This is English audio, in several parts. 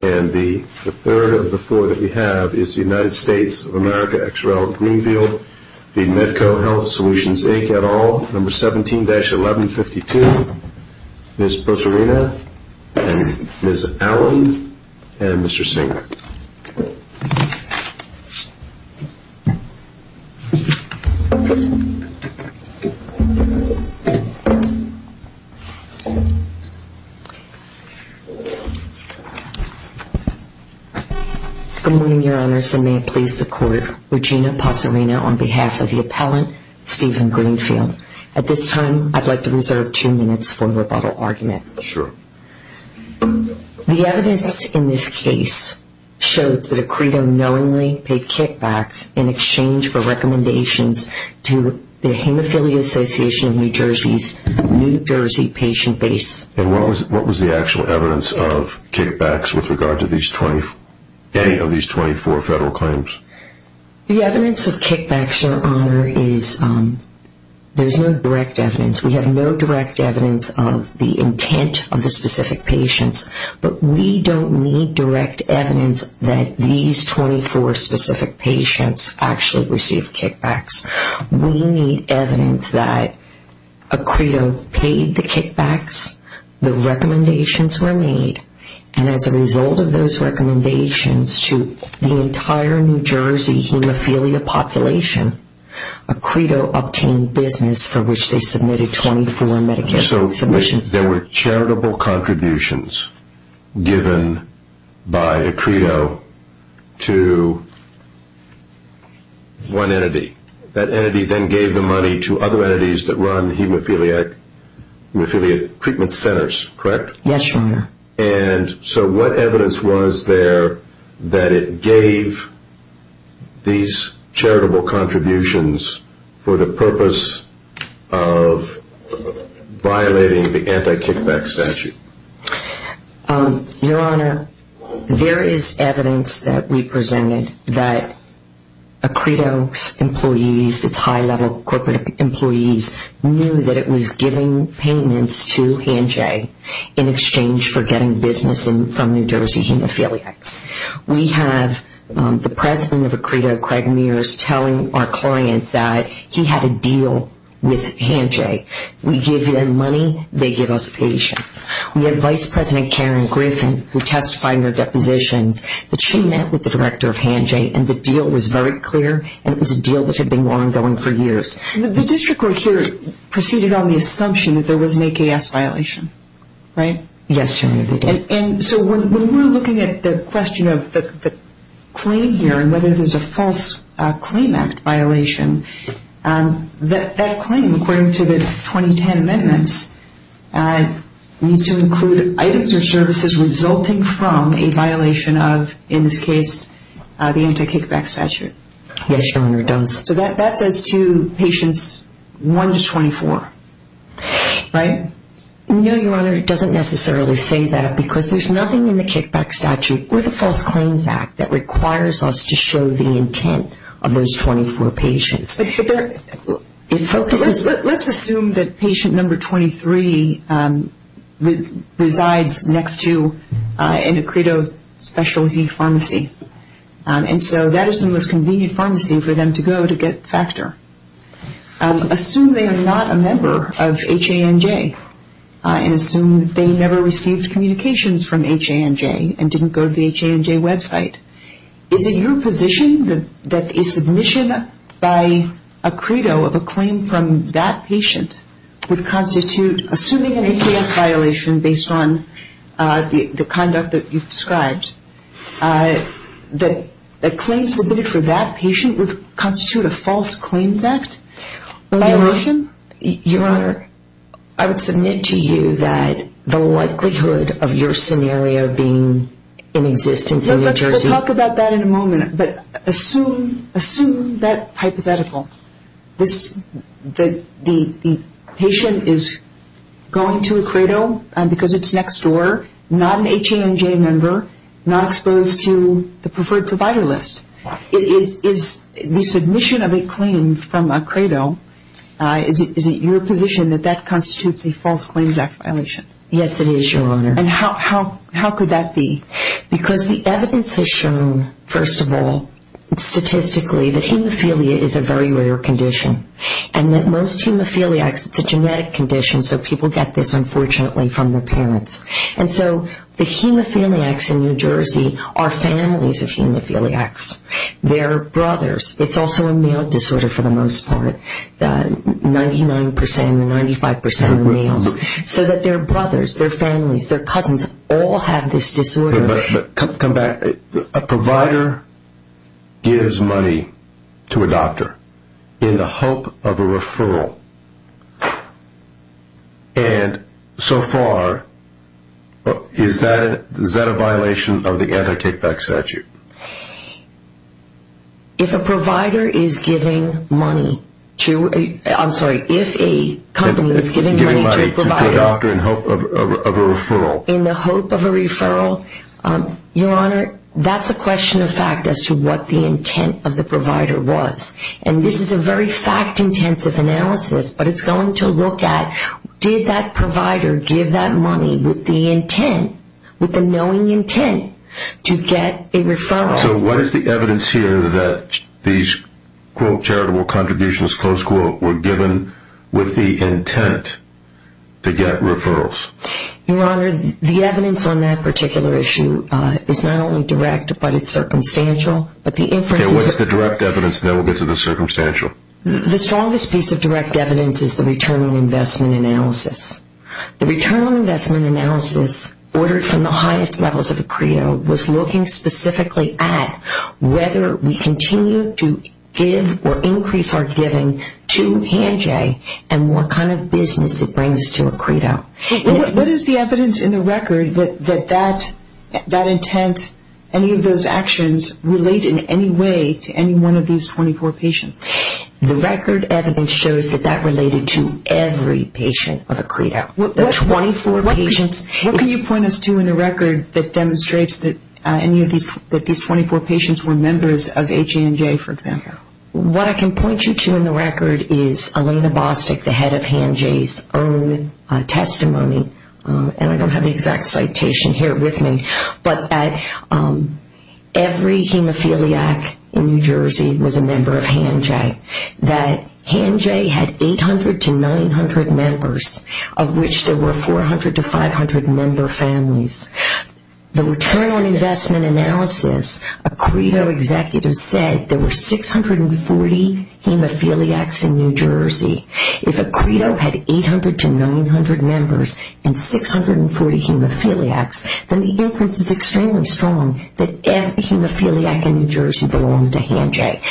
And the third of the four that we have is the United States of America, XRL-Greenfield v. Medco Health Solutions Inc, et al., number 17-1152, Ms. Proserena and Ms. Allen and Mr. Singer. Good morning, Your Honors, and may it please the Court. Regina Proserena on behalf of the appellant, Stephen Greenfield. At this time, I'd like to reserve two minutes for the rebuttal argument. Sure. The evidence in this case showed that a credo knowingly paid kickbacks in exchange for recommendations to the Hemophilia Association of New Jersey's New Jersey patient base. And what was the actual evidence of kickbacks with regard to any of these 24 federal claims? The evidence of kickbacks, Your Honor, is there's no direct evidence. We have no direct evidence of the intent of the specific patients, but we don't need direct evidence that these 24 specific patients actually received kickbacks. We need evidence that a credo paid the kickbacks, the recommendations were made, and as a result of those recommendations to the entire New Jersey hemophilia population, a credo obtained business for which they submitted 24 Medicaid submissions. There were charitable contributions given by a credo to one entity. That entity then gave the money to other entities that run hemophilia treatment centers, correct? Yes, Your Honor. And so what evidence was there that it gave these charitable contributions for the purpose of violating the anti-kickback statute? Your Honor, there is evidence that we presented that a credo's employees, its high-level corporate employees, knew that it was giving payments to Hanjay in exchange for getting business from New Jersey hemophiliacs. We have the president of a credo, Craig Mears, telling our client that he had a deal with Hanjay. We give them money, they give us patients. We have Vice President Karen Griffin who testified in her depositions that she met with the director of Hanjay and the deal was very clear and it was a deal that had been ongoing for years. The district court here proceeded on the assumption that there was an AKS violation, right? Yes, Your Honor. And so when we're looking at the question of the claim here and whether there's a false claim act violation, that claim, according to the 2010 amendments, needs to include items or services resulting from a violation of, in this case, the anti-kickback statute. Yes, Your Honor, it does. So that says to patients 1 to 24, right? No, Your Honor, it doesn't necessarily say that because there's nothing in the kickback statute or the false claim act that requires us to show the intent of those 24 patients. Let's assume that patient number 23 resides next to a credo specialty pharmacy. And so that is the most convenient pharmacy for them to go to get factor. Assume they are not a member of Hanjay and assume they never received communications from Hanjay and didn't go to the Hanjay website. Is it your position that a submission by a credo of a claim from that patient would constitute, assuming an AKS violation based on the conduct that you've described, that a claim submitted for that patient would constitute a false claims act? Your Honor, I would submit to you that the likelihood of your scenario being in existence in New Jersey We'll talk about that in a moment, but assume that hypothetical. The patient is going to a credo because it's next door, not an Hanjay member, not exposed to the preferred provider list. Is the submission of a claim from a credo, is it your position that that constitutes a false claims act violation? Yes, it is, Your Honor. And how could that be? Because the evidence has shown, first of all, statistically, that hemophilia is a very rare condition. And that most hemophiliacs, it's a genetic condition, so people get this, unfortunately, from their parents. And so the hemophiliacs in New Jersey are families of hemophiliacs. They're brothers. It's also a meal disorder for the most part. The 99% and the 95% of meals. So that they're brothers, they're families, they're cousins all have this disorder. Come back. And so far, is that a violation of the anti-take-back statute? If a provider is giving money to, I'm sorry, if a company is giving money to a provider. Giving money to a doctor in hope of a referral. In the hope of a referral, Your Honor, that's a question of fact as to what the intent of the provider was. And this is a very fact-intensive analysis. But it's going to look at, did that provider give that money with the intent, with the knowing intent, to get a referral? So what is the evidence here that these, quote, charitable contributions, close quote, were given with the intent to get referrals? Your Honor, the evidence on that particular issue is not only direct, but it's circumstantial. Okay, what's the direct evidence? And then we'll get to the circumstantial. The strongest piece of direct evidence is the return on investment analysis. The return on investment analysis, ordered from the highest levels of a credo, was looking specifically at whether we continue to give or increase our giving to HandJ, and what kind of business it brings to a credo. What is the evidence in the record that that intent, any of those actions, relate in any way to any one of these 24 patients? The record evidence shows that that related to every patient of a credo. The 24 patients? What can you point us to in the record that demonstrates that any of these, that these 24 patients were members of HandJ, for example? What I can point you to in the record is Elena Bostic, the head of HandJ's own testimony, and I don't have the exact citation here with me, but every hemophiliac in New Jersey was a member of HandJ. That HandJ had 800 to 900 members, of which there were 400 to 500 member families. The return on investment analysis, a credo executive said there were 640 hemophiliacs in New Jersey. If a credo had 800 to 900 members and 640 hemophiliacs, then the inference is extremely strong that every hemophiliac in New Jersey belonged to HandJ.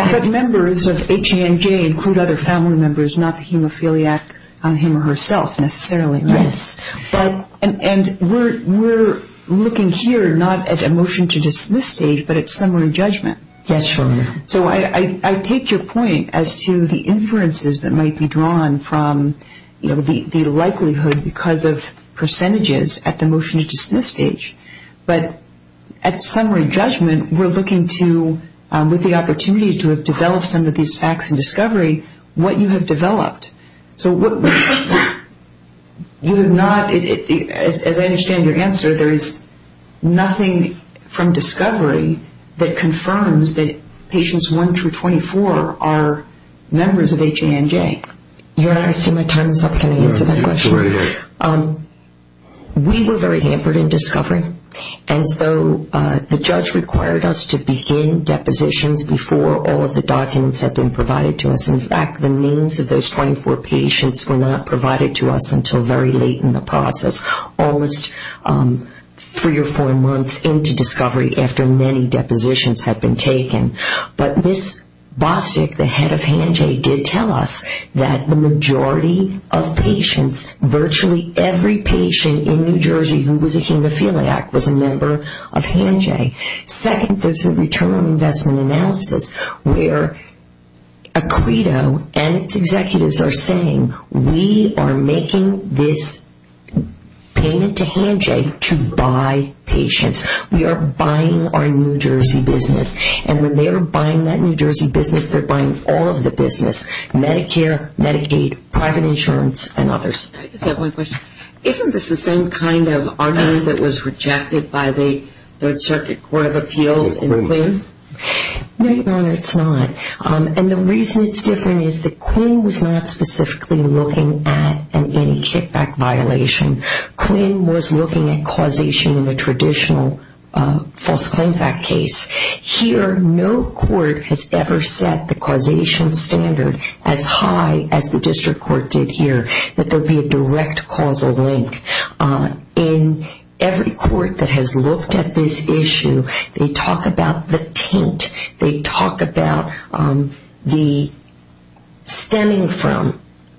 But members of HandJ include other family members, not the hemophiliac, him or herself necessarily, right? Yes, and we're looking here not at a motion to dismiss stage, but at summary judgment. Yes, sure. So I take your point as to the inferences that might be drawn from, you know, the likelihood because of percentages at the motion to dismiss stage. But at summary judgment, we're looking to, with the opportunity to develop some of these facts in discovery, what you have developed. So you have not, as I understand your answer, there is nothing from discovery that confirms that patients 1 through 24 are members of HandJ. Your Honor, I see my time is up. Can I answer that question? Go right ahead. We were very hampered in discovery. And so the judge required us to begin depositions before all of the documents had been provided to us. In fact, the names of those 24 patients were not provided to us until very late in the process, almost three or four months into discovery after many depositions had been taken. But Ms. Bostic, the head of HandJ, did tell us that the majority of patients, virtually every patient in New Jersey who was a hemophiliac was a member of HandJ. Second, there's a return on investment analysis where Acredo and its executives are saying, we are making this payment to HandJ to buy patients. We are buying our New Jersey business. And when they are buying that New Jersey business, they're buying all of the business, Medicare, Medicaid, private insurance, and others. I just have one question. Isn't this the same kind of argument that was rejected by the Third Circuit Court of Appeals in Quinn? No, Your Honor, it's not. And the reason it's different is that Quinn was not specifically looking at an anti-kickback violation. Quinn was looking at causation in a traditional False Claims Act case. Here, no court has ever set the causation standard as high as the district court did here, that there be a direct causal link. In every court that has looked at this issue, they talk about the tint. They talk about the stemming from the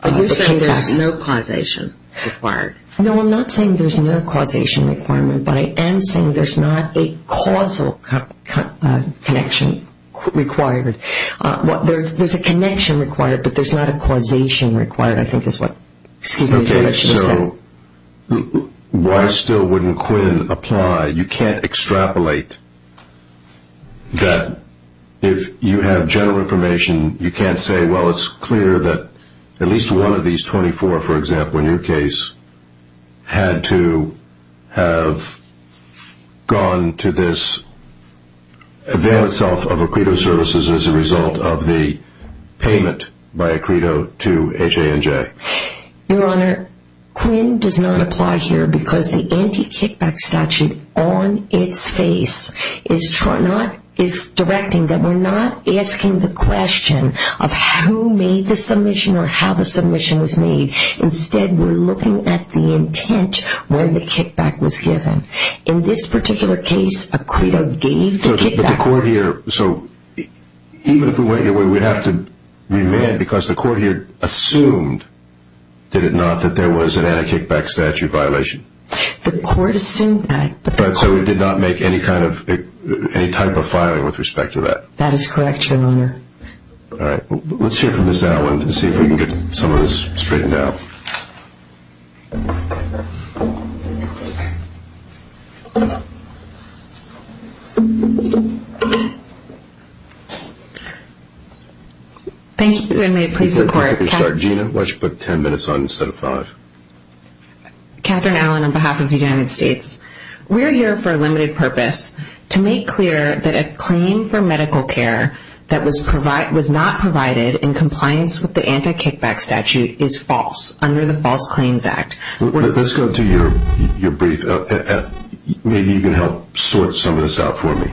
kickbacks. Are you saying there's no causation required? No, I'm not saying there's no causation requirement, but I am saying there's not a causal connection required. There's a connection required, but there's not a causation required, I think is what I should have said. Okay, so why still wouldn't Quinn apply? You can't extrapolate that. If you have general information, you can't say, well, it's clear that at least one of these 24, for example, in your case, had to have gone to this advance of a credo services as a result of the payment by a credo to HA&J. Your Honor, Quinn does not apply here because the anti-kickback statute, on its face, is directing that we're not asking the question of who made the submission or how the submission was made. Instead, we're looking at the intent when the kickback was given. In this particular case, a credo gave the kickback. So even if we went your way, we'd have to remand because the court here assumed, did it not, that there was an anti-kickback statute violation? The court assumed that. So it did not make any type of filing with respect to that? That is correct, Your Honor. All right. Let's hear from Ms. Allen to see if we can get some of this straightened out. Thank you, and may it please the Court. Gina, why don't you put 10 minutes on instead of five? Catherine Allen, on behalf of the United States. We're here for a limited purpose to make clear that a claim for medical care that was not provided in compliance with the anti-kickback statute is false under the False Claims Act. Let's go to your brief. Maybe you can help sort some of this out for me.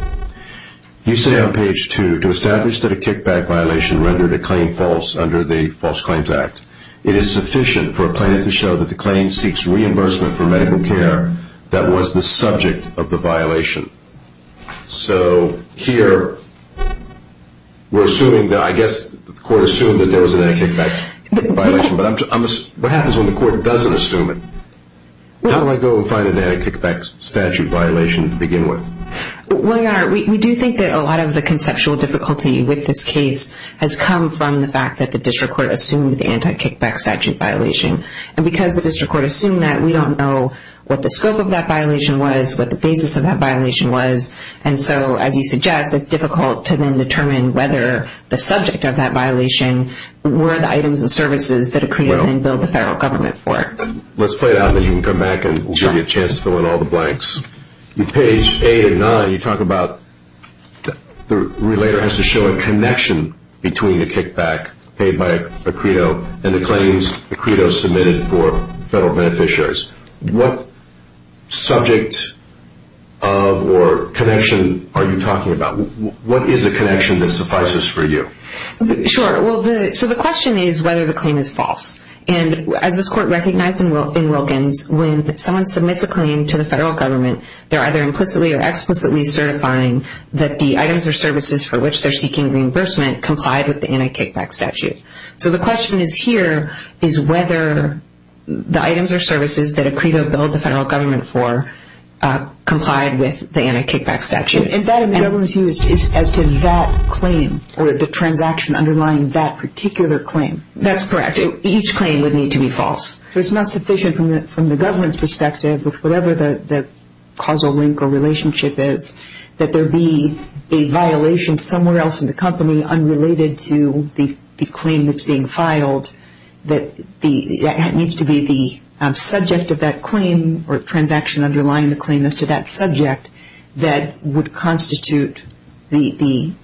You say on page 2, to establish that a kickback violation rendered a claim false under the False Claims Act, it is sufficient for a plaintiff to show that the claim seeks reimbursement for medical care that was the subject of the violation. So here we're assuming that, I guess the court assumed that there was an anti-kickback violation, but what happens when the court doesn't assume it? How do I go find an anti-kickback statute violation to begin with? Well, Your Honor, we do think that a lot of the conceptual difficulty with this case has come from the fact that the district court assumed the anti-kickback statute violation. And because the district court assumed that, we don't know what the scope of that violation was, what the basis of that violation was. And so, as you suggest, it's difficult to then determine whether the subject of that violation were the items and services that it created and billed the federal government for. Let's play it out, and then you can come back, and we'll give you a chance to fill in all the blanks. In page 8 and 9, you talk about the relator has to show a connection between the kickback paid by a credo and the claims the credo submitted for federal beneficiaries. What subject or connection are you talking about? What is a connection that suffices for you? Sure. So the question is whether the claim is false. And as this court recognized in Wilkins, when someone submits a claim to the federal government, they're either implicitly or explicitly certifying that the items or services for which they're seeking reimbursement complied with the anti-kickback statute. So the question here is whether the items or services that a credo billed the federal government for complied with the anti-kickback statute. And that in the government's view is as to that claim, or the transaction underlying that particular claim. That's correct. Each claim would need to be false. So it's not sufficient from the government's perspective with whatever the causal link or relationship is that there be a violation somewhere else in the company unrelated to the claim that's being filed that needs to be the subject of that claim or transaction underlying the claim as to that subject Exactly,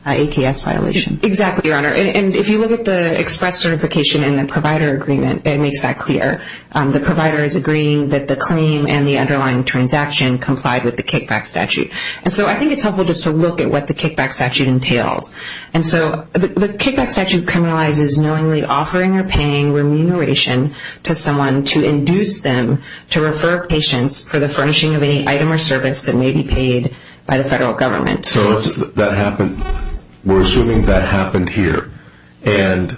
Your Honor. And if you look at the express certification in the provider agreement, it makes that clear. The provider is agreeing that the claim and the underlying transaction complied with the kickback statute. And so I think it's helpful just to look at what the kickback statute entails. And so the kickback statute criminalizes knowingly offering or paying remuneration to someone to induce them to refer patients for the furnishing of any item or service that may be paid by the federal government. So we're assuming that happened here. And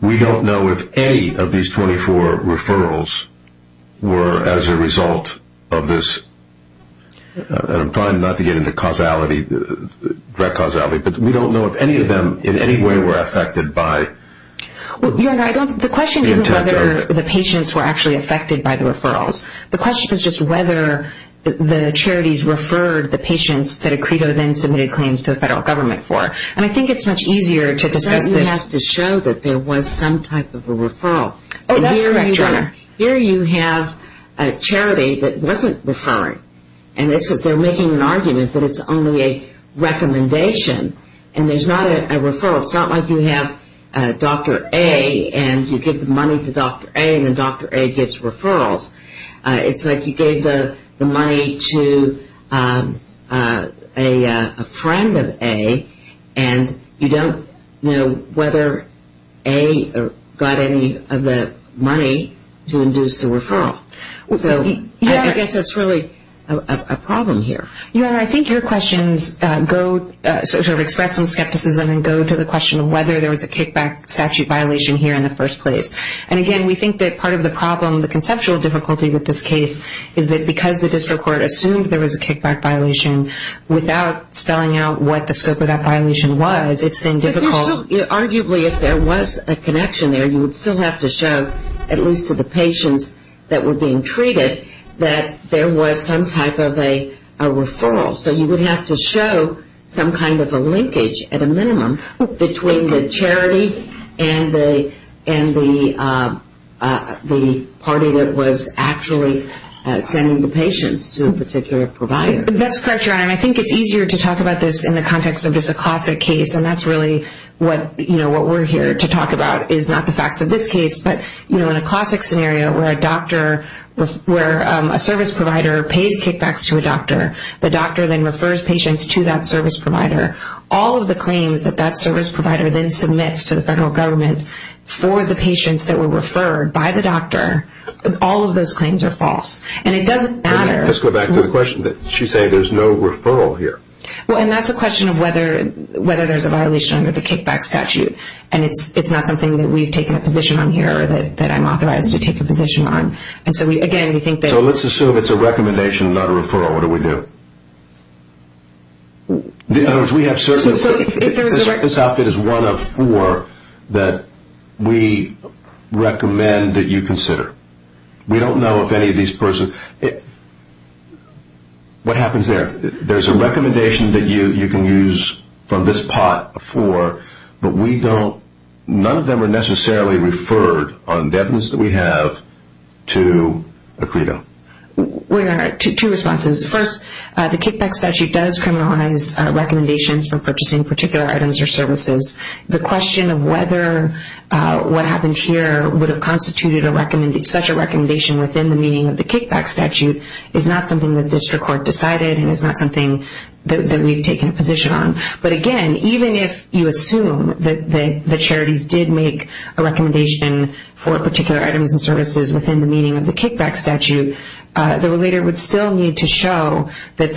we don't know if any of these 24 referrals were as a result of this. I'm trying not to get into causality, direct causality, but we don't know if any of them in any way were affected by Well, Your Honor, the question isn't whether the patients were actually affected by the referrals. The question is just whether the charities referred the patients that Acredo then submitted claims to the federal government for. And I think it's much easier to discuss this. You have to show that there was some type of a referral. Oh, that's correct, Your Honor. Here you have a charity that wasn't referring. And they're making an argument that it's only a recommendation. And there's not a referral. It's not like you have Dr. A and you give the money to Dr. A and then Dr. A gives referrals. It's like you gave the money to a friend of A and you don't know whether A got any of the money to induce the referral. So I guess that's really a problem here. Your Honor, I think your questions sort of express some skepticism and go to the question of whether there was a kickback statute violation here in the first place. And, again, we think that part of the problem, the conceptual difficulty with this case, is that because the district court assumed there was a kickback violation, without spelling out what the scope of that violation was, it's been difficult. Arguably, if there was a connection there, you would still have to show, at least to the patients that were being treated, that there was some type of a referral. So you would have to show some kind of a linkage, at a minimum, between the charity and the party that was actually sending the patients to a particular provider. That's correct, Your Honor. And I think it's easier to talk about this in the context of just a classic case. And that's really what we're here to talk about is not the facts of this case, but in a classic scenario where a service provider pays kickbacks to a doctor, the doctor then refers patients to that service provider. All of the claims that that service provider then submits to the federal government for the patients that were referred by the doctor, all of those claims are false. And it doesn't matter. Let's go back to the question. She's saying there's no referral here. Well, and that's a question of whether there's a violation under the kickback statute. And it's not something that we've taken a position on here or that I'm authorized to take a position on. And so, again, we think that... So let's assume it's a recommendation, not a referral. What do we do? In other words, we have certain... So if there's a... This outfit is one of four that we recommend that you consider. We don't know if any of these persons... What happens there? There's a recommendation that you can use from this pot of four, but we don't... Two responses. First, the kickback statute does criminalize recommendations for purchasing particular items or services. The question of whether what happened here would have constituted such a recommendation within the meaning of the kickback statute is not something that district court decided and is not something that we've taken a position on. But, again, even if you assume that the charities did make a recommendation for particular items and services within the meaning of the kickback statute, the relator would still need to show that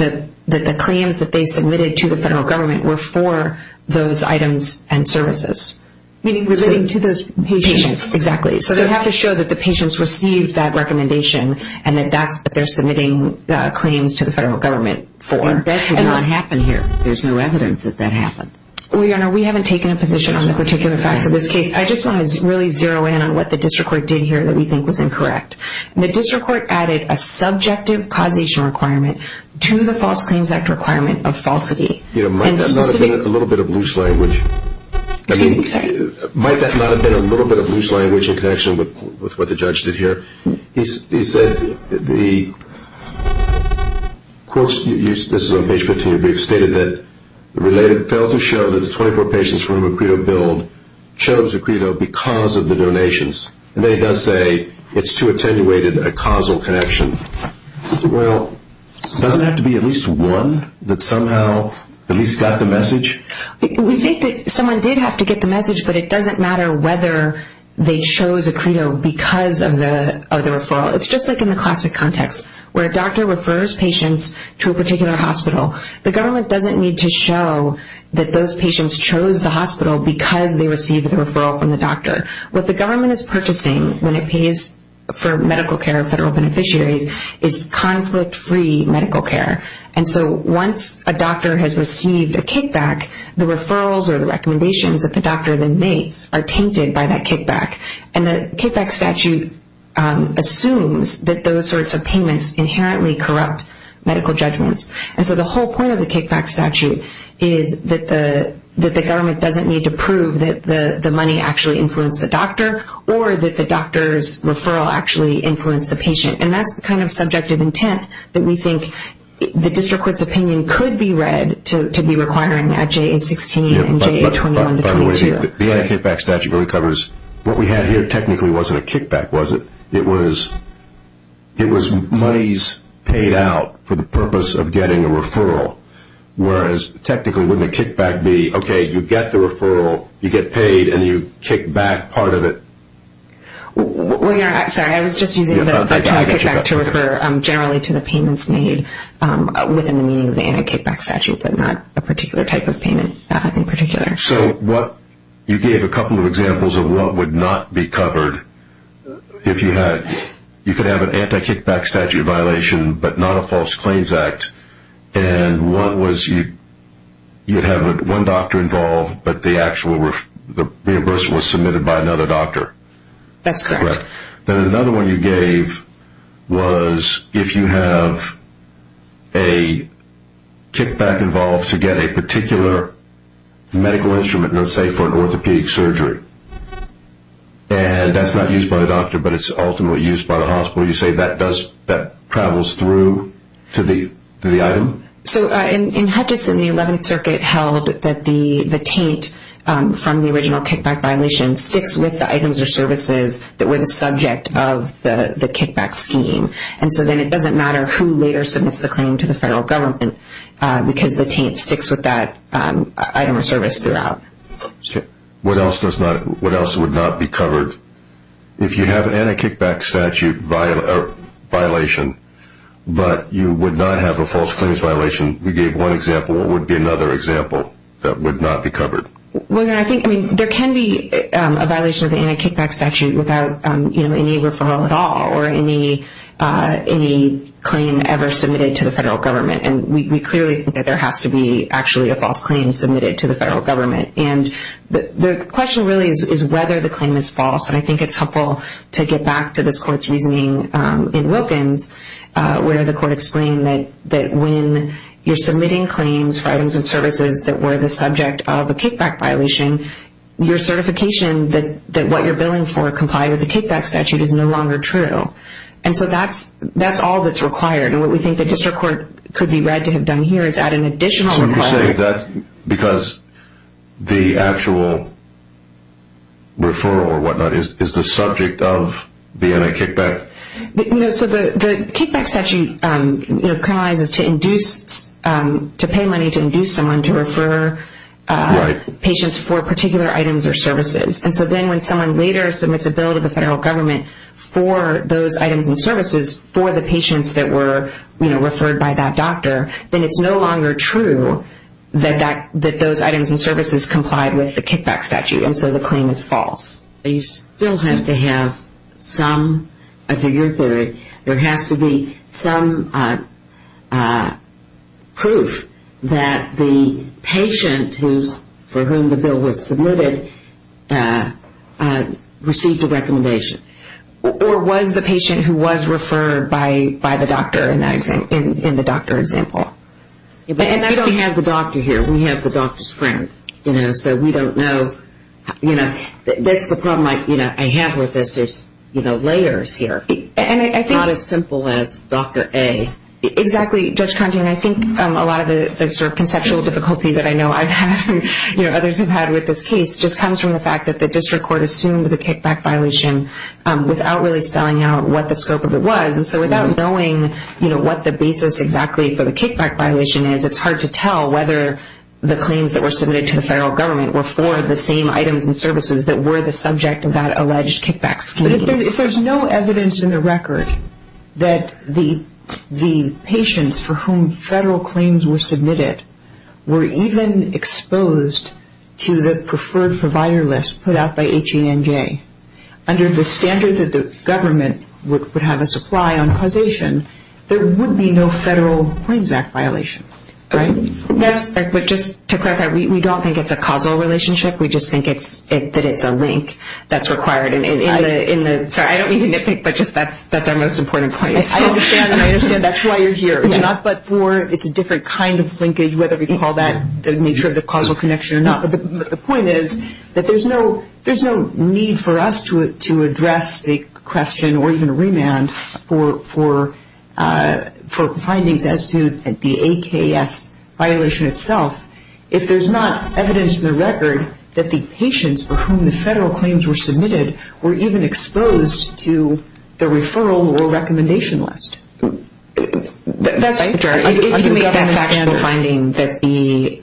the claims that they submitted to the federal government were for those items and services. Meaning relating to those patients. Patients, exactly. So they have to show that the patients received that recommendation and that that's what they're submitting claims to the federal government for. That did not happen here. There's no evidence that that happened. Well, Your Honor, we haven't taken a position on the particular facts of this case. I just want to really zero in on what the district court did here that we think was incorrect. The district court added a subjective causation requirement to the False Claims Act requirement of falsity. You know, might that not have been a little bit of loose language? Excuse me? Sorry. Might that not have been a little bit of loose language in connection with what the judge did here? He said the quotes, this is on page 15 of your brief, stated that the relator failed to show that the 24 patients from a credo billed chose a credo because of the donations. And then he does say it's too attenuated a causal connection. Well, doesn't it have to be at least one that somehow at least got the message? We think that someone did have to get the message, but it doesn't matter whether they chose a credo because of the referral. It's just like in the classic context where a doctor refers patients to a particular hospital. The government doesn't need to show that those patients chose the hospital because they received the referral from the doctor. What the government is purchasing when it pays for medical care of federal beneficiaries is conflict-free medical care. And so once a doctor has received a kickback, the referrals or the recommendations that the doctor then makes are tainted by that kickback. And the kickback statute assumes that those sorts of payments inherently corrupt medical judgments. And so the whole point of the kickback statute is that the government doesn't need to prove that the money actually influenced the doctor or that the doctor's referral actually influenced the patient. And that's the kind of subjective intent that we think the district court's opinion could be read to be requiring at JA-16 and JA-21-22. By the way, the kickback statute really covers what we had here technically wasn't a kickback, was it? It was monies paid out for the purpose of getting a referral, whereas technically wouldn't a kickback be, okay, you get the referral, you get paid, and you kick back part of it? Sorry, I was just using the term kickback to refer generally to the payments made within the meaning of the anti-kickback statute, but not a particular type of payment in particular. So you gave a couple of examples of what would not be covered if you had, you could have an anti-kickback statute violation but not a false claims act, and one was you'd have one doctor involved but the reimbursement was submitted by another doctor. That's correct. Then another one you gave was if you have a kickback involved to get a particular medical instrument, let's say for an orthopedic surgery, and that's not used by the doctor but it's ultimately used by the hospital, you say that travels through to the item? So in Hutchison, the 11th Circuit held that the taint from the original kickback violation sticks with the items or services that were the subject of the kickback scheme, and so then it doesn't matter who later submits the claim to the federal government because the taint sticks with that item or service throughout. What else would not be covered? If you have an anti-kickback statute violation but you would not have a false claims violation, you gave one example, what would be another example that would not be covered? There can be a violation of the anti-kickback statute without any referral at all or any claim ever submitted to the federal government, and we clearly think that there has to be actually a false claim submitted to the federal government. The question really is whether the claim is false, and I think it's helpful to get back to this Court's reasoning in Wilkins where the Court explained that when you're submitting claims for items and services that were the subject of a kickback violation, your certification that what you're billing for complied with the kickback statute is no longer true, and so that's all that's required, and what we think the district court could be read to have done here is add an additional requirement. So you say that because the actual referral or whatnot is the subject of the anti-kickback? The kickback statute criminalizes to pay money to induce someone to refer patients for particular items or services, and so then when someone later submits a bill to the federal government for those items and services for the patients that were referred by that doctor, then it's no longer true that those items and services complied with the kickback statute, and so the claim is false. You still have to have some, under your theory, there has to be some proof that the patient for whom the bill was submitted received a recommendation, or was the patient who was referred by the doctor in the doctor example? We don't have the doctor here. We have the doctor's friend, so we don't know. That's the problem I have with this. There's layers here. It's not as simple as Dr. A. Exactly, Judge Conte, and I think a lot of the conceptual difficulty that I know I've had and others have had with this case just comes from the fact that the district court assumed the kickback violation without really spelling out what the scope of it was, and so without knowing what the basis exactly for the kickback violation is, it's hard to tell whether the claims that were submitted to the federal government were for the same items and services that were the subject of that alleged kickback scheme. But if there's no evidence in the record that the patients for whom federal claims were submitted were even exposed to the preferred provider list put out by HE&J, under the standard that the government would have a supply on causation, there would be no federal claims act violation, right? But just to clarify, we don't think it's a causal relationship. We just think that it's a link that's required. Sorry, I don't mean to nitpick, but just that's our most important point. I understand. I understand. That's why you're here. It's not but for it's a different kind of linkage, whether we call that the nature of the causal connection or not, but the point is that there's no need for us to address the question or even remand for findings as to the AKS violation itself if there's not evidence in the record that the patients for whom the federal claims were submitted were even exposed to the referral or recommendation list. That's true. If you make that factual finding that the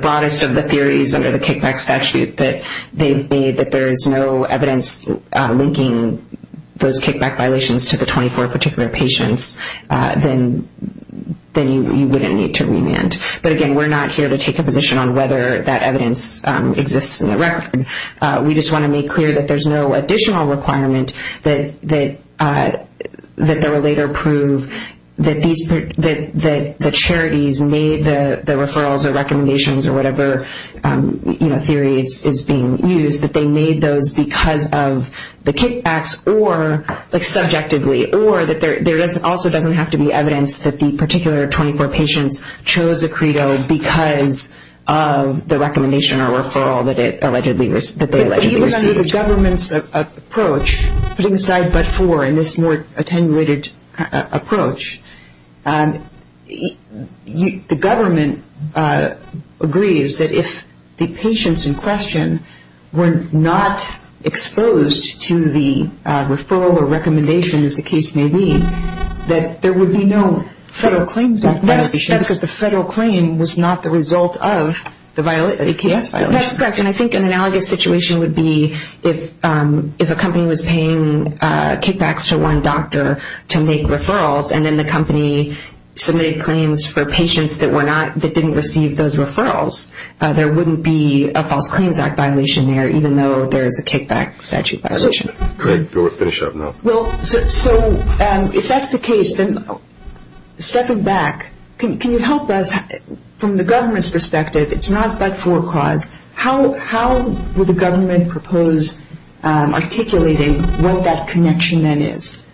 broadest of the theories under the kickback statute that there is no evidence linking those kickback violations to the 24 particular patients, then you wouldn't need to remand. But, again, we're not here to take a position on whether that evidence exists in the record. We just want to make clear that there's no additional requirement that there were later proved that the charities made the referrals or recommendations or whatever theory is being used, that they made those because of the kickbacks or subjectively, or that there also doesn't have to be evidence that the particular 24 patients chose a credo because of the recommendation or referral that they allegedly received. But even under the government's approach, putting aside but for in this more attenuated approach, the government agrees that if the patients in question were not exposed to the referral or recommendation, as the case may be, that there would be no Federal Claims Act investigation because the federal claim was not the result of the AKS violation. That's correct. And I think an analogous situation would be if a company was paying kickbacks to one doctor to make referrals and then the company submitted claims for patients that didn't receive those referrals. There wouldn't be a False Claims Act violation there even though there is a kickback statute violation. Great. Finish up now. Well, so if that's the case, then stepping back, can you help us from the government's perspective, it's not but for a cause, how would the government propose articulating what that connection then is?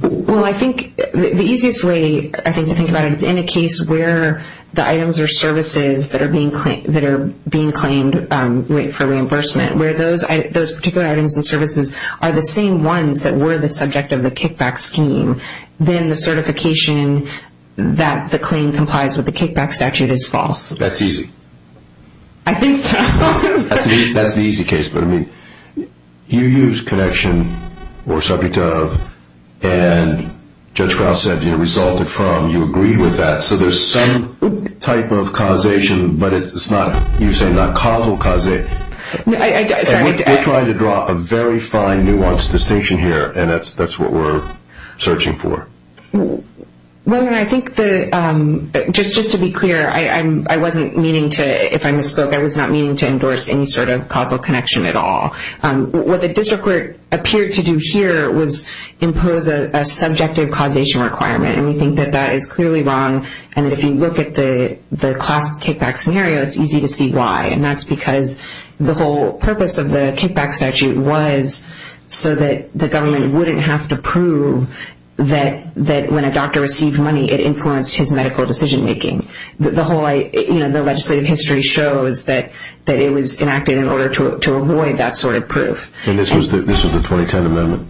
Well, I think the easiest way I think to think about it is in a case where the items are services that are being claimed for reimbursement, where those particular items and services are the same ones that were the subject of the kickback scheme, then the certification that the claim complies with the kickback statute is false. That's easy. I think so. That's the easy case. But I mean, you use connection or subject of and Judge Grouse said it resulted from, you agree with that. So there's some type of causation but it's not, you say not causal causation. Sorry. We're trying to draw a very fine nuanced distinction here and that's what we're searching for. Well, I think just to be clear, I wasn't meaning to, if I misspoke, I was not meaning to endorse any sort of causal connection at all. What the district court appeared to do here was impose a subjective causation requirement and we think that that is clearly wrong and if you look at the class kickback scenario, it's easy to see why and that's because the whole purpose of the kickback statute was so that the government wouldn't have to prove that when a doctor received money, it influenced his medical decision making. The legislative history shows that it was enacted in order to avoid that sort of proof. And this was the 2010 amendment?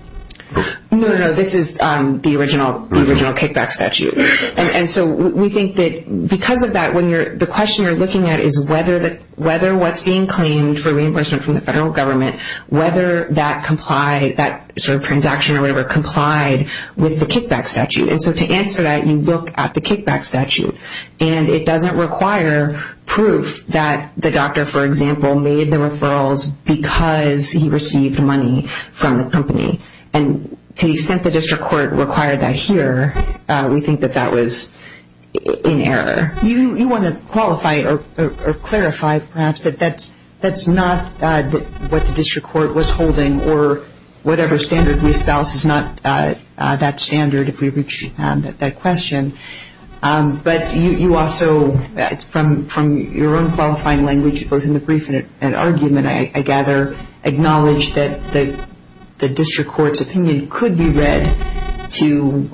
No, no, no. This is the original kickback statute. And so we think that because of that, the question you're looking at is whether what's being claimed for reimbursement from the federal government, whether that sort of transaction or whatever complied with the kickback statute. And so to answer that, you look at the kickback statute and it doesn't require proof that the doctor, for example, made the referrals because he received money from the company. And to the extent the district court required that here, we think that that was in error. You want to qualify or clarify perhaps that that's not what the district court was holding or whatever standard we espouse is not that standard if we reach that question. But you also, from your own qualifying language, both in the brief and argument, I gather acknowledge that the district court's opinion could be read to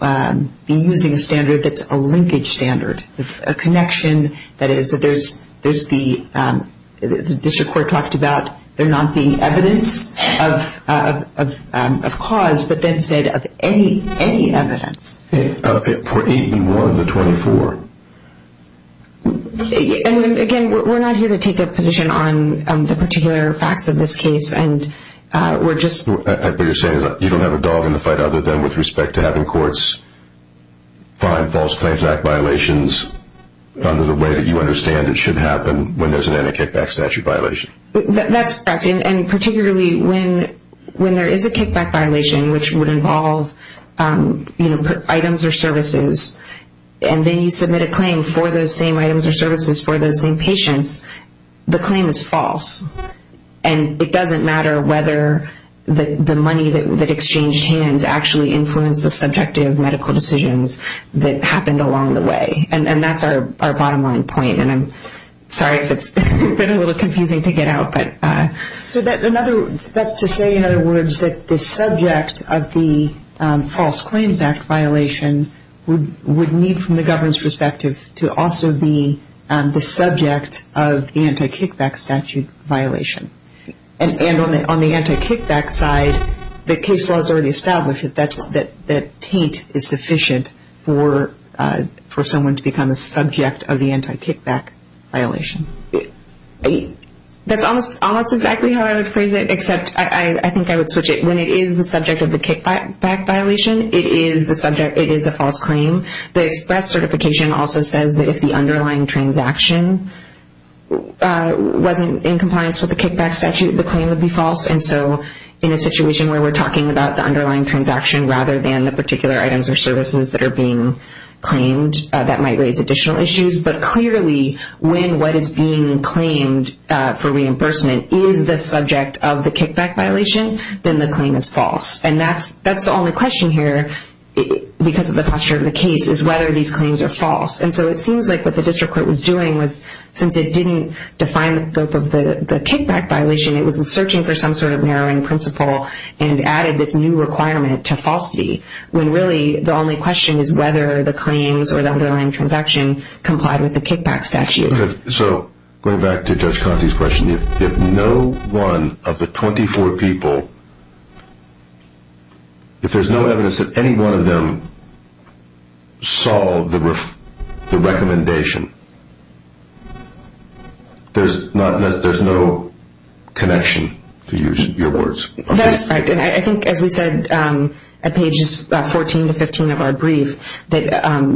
be using a standard that's a linkage standard, a connection. That is that there's the district court talked about they're not the evidence of cause, but then said of any evidence. For 8 and 1, the 24. Again, we're not here to take a position on the particular facts of this case. But you're saying you don't have a dog in the fight other than with respect to having courts find false claims act violations under the way that you understand it should happen when there's an anti-kickback statute violation. That's correct. And particularly when there is a kickback violation, which would involve items or services, and then you submit a claim for those same items or services for those same patients, the claim is false. And it doesn't matter whether the money that exchanged hands actually influenced the subjective medical decisions that happened along the way. And that's our bottom line point. And I'm sorry if it's been a little confusing to get out. So that's to say, in other words, that the subject of the false claims act violation would need, from the government's perspective, to also be the subject of the anti-kickback statute violation. And on the anti-kickback side, the case law has already established that taint is sufficient for someone to become a subject of the anti-kickback violation. That's almost exactly how I would phrase it, except I think I would switch it. When it is the subject of the kickback violation, it is a false claim. The express certification also says that if the underlying transaction wasn't in compliance with the kickback statute, the claim would be false. And so in a situation where we're talking about the underlying transaction rather than the particular items or services that are being claimed, that might raise additional issues. But clearly, when what is being claimed for reimbursement is the subject of the kickback violation, then the claim is false. And that's the only question here, because of the posture of the case, is whether these claims are false. And so it seems like what the district court was doing was, since it didn't define the scope of the kickback violation, it was searching for some sort of narrowing principle and added this new requirement to falsity, when really the only question is whether the claims or the underlying transaction complied with the kickback statute. So going back to Judge Conti's question, if no one of the 24 people, if there's no evidence that any one of them solved the recommendation, there's no connection, to use your words. That's correct, and I think as we said at pages 14 to 15 of our brief, that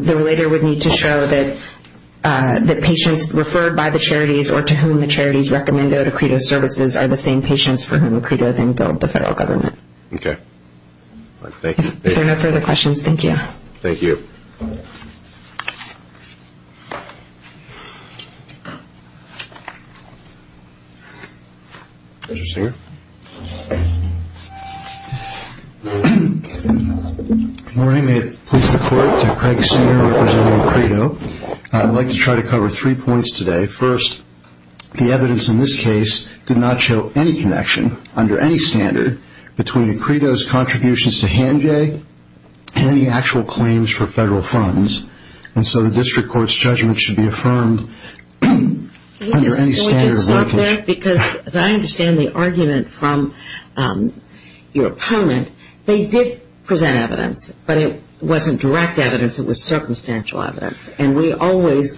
the relator would need to show that patients referred by the charities or to whom the charities recommend O2Credo services are the same patients for whom O2Credo then billed the federal government. Okay. If there are no further questions, thank you. Thank you. Judge Singer. Maureen, may it please the Court, Craig Singer representing O2Credo. I'd like to try to cover three points today. First, the evidence in this case did not show any connection under any standard between O2Credo's contributions to HandJay and the actual claims for federal funds, and so the district court's judgment should be affirmed under any standard. Can we just stop there? Because as I understand the argument from your opponent, they did present evidence, but it wasn't direct evidence, it was circumstantial evidence, and we always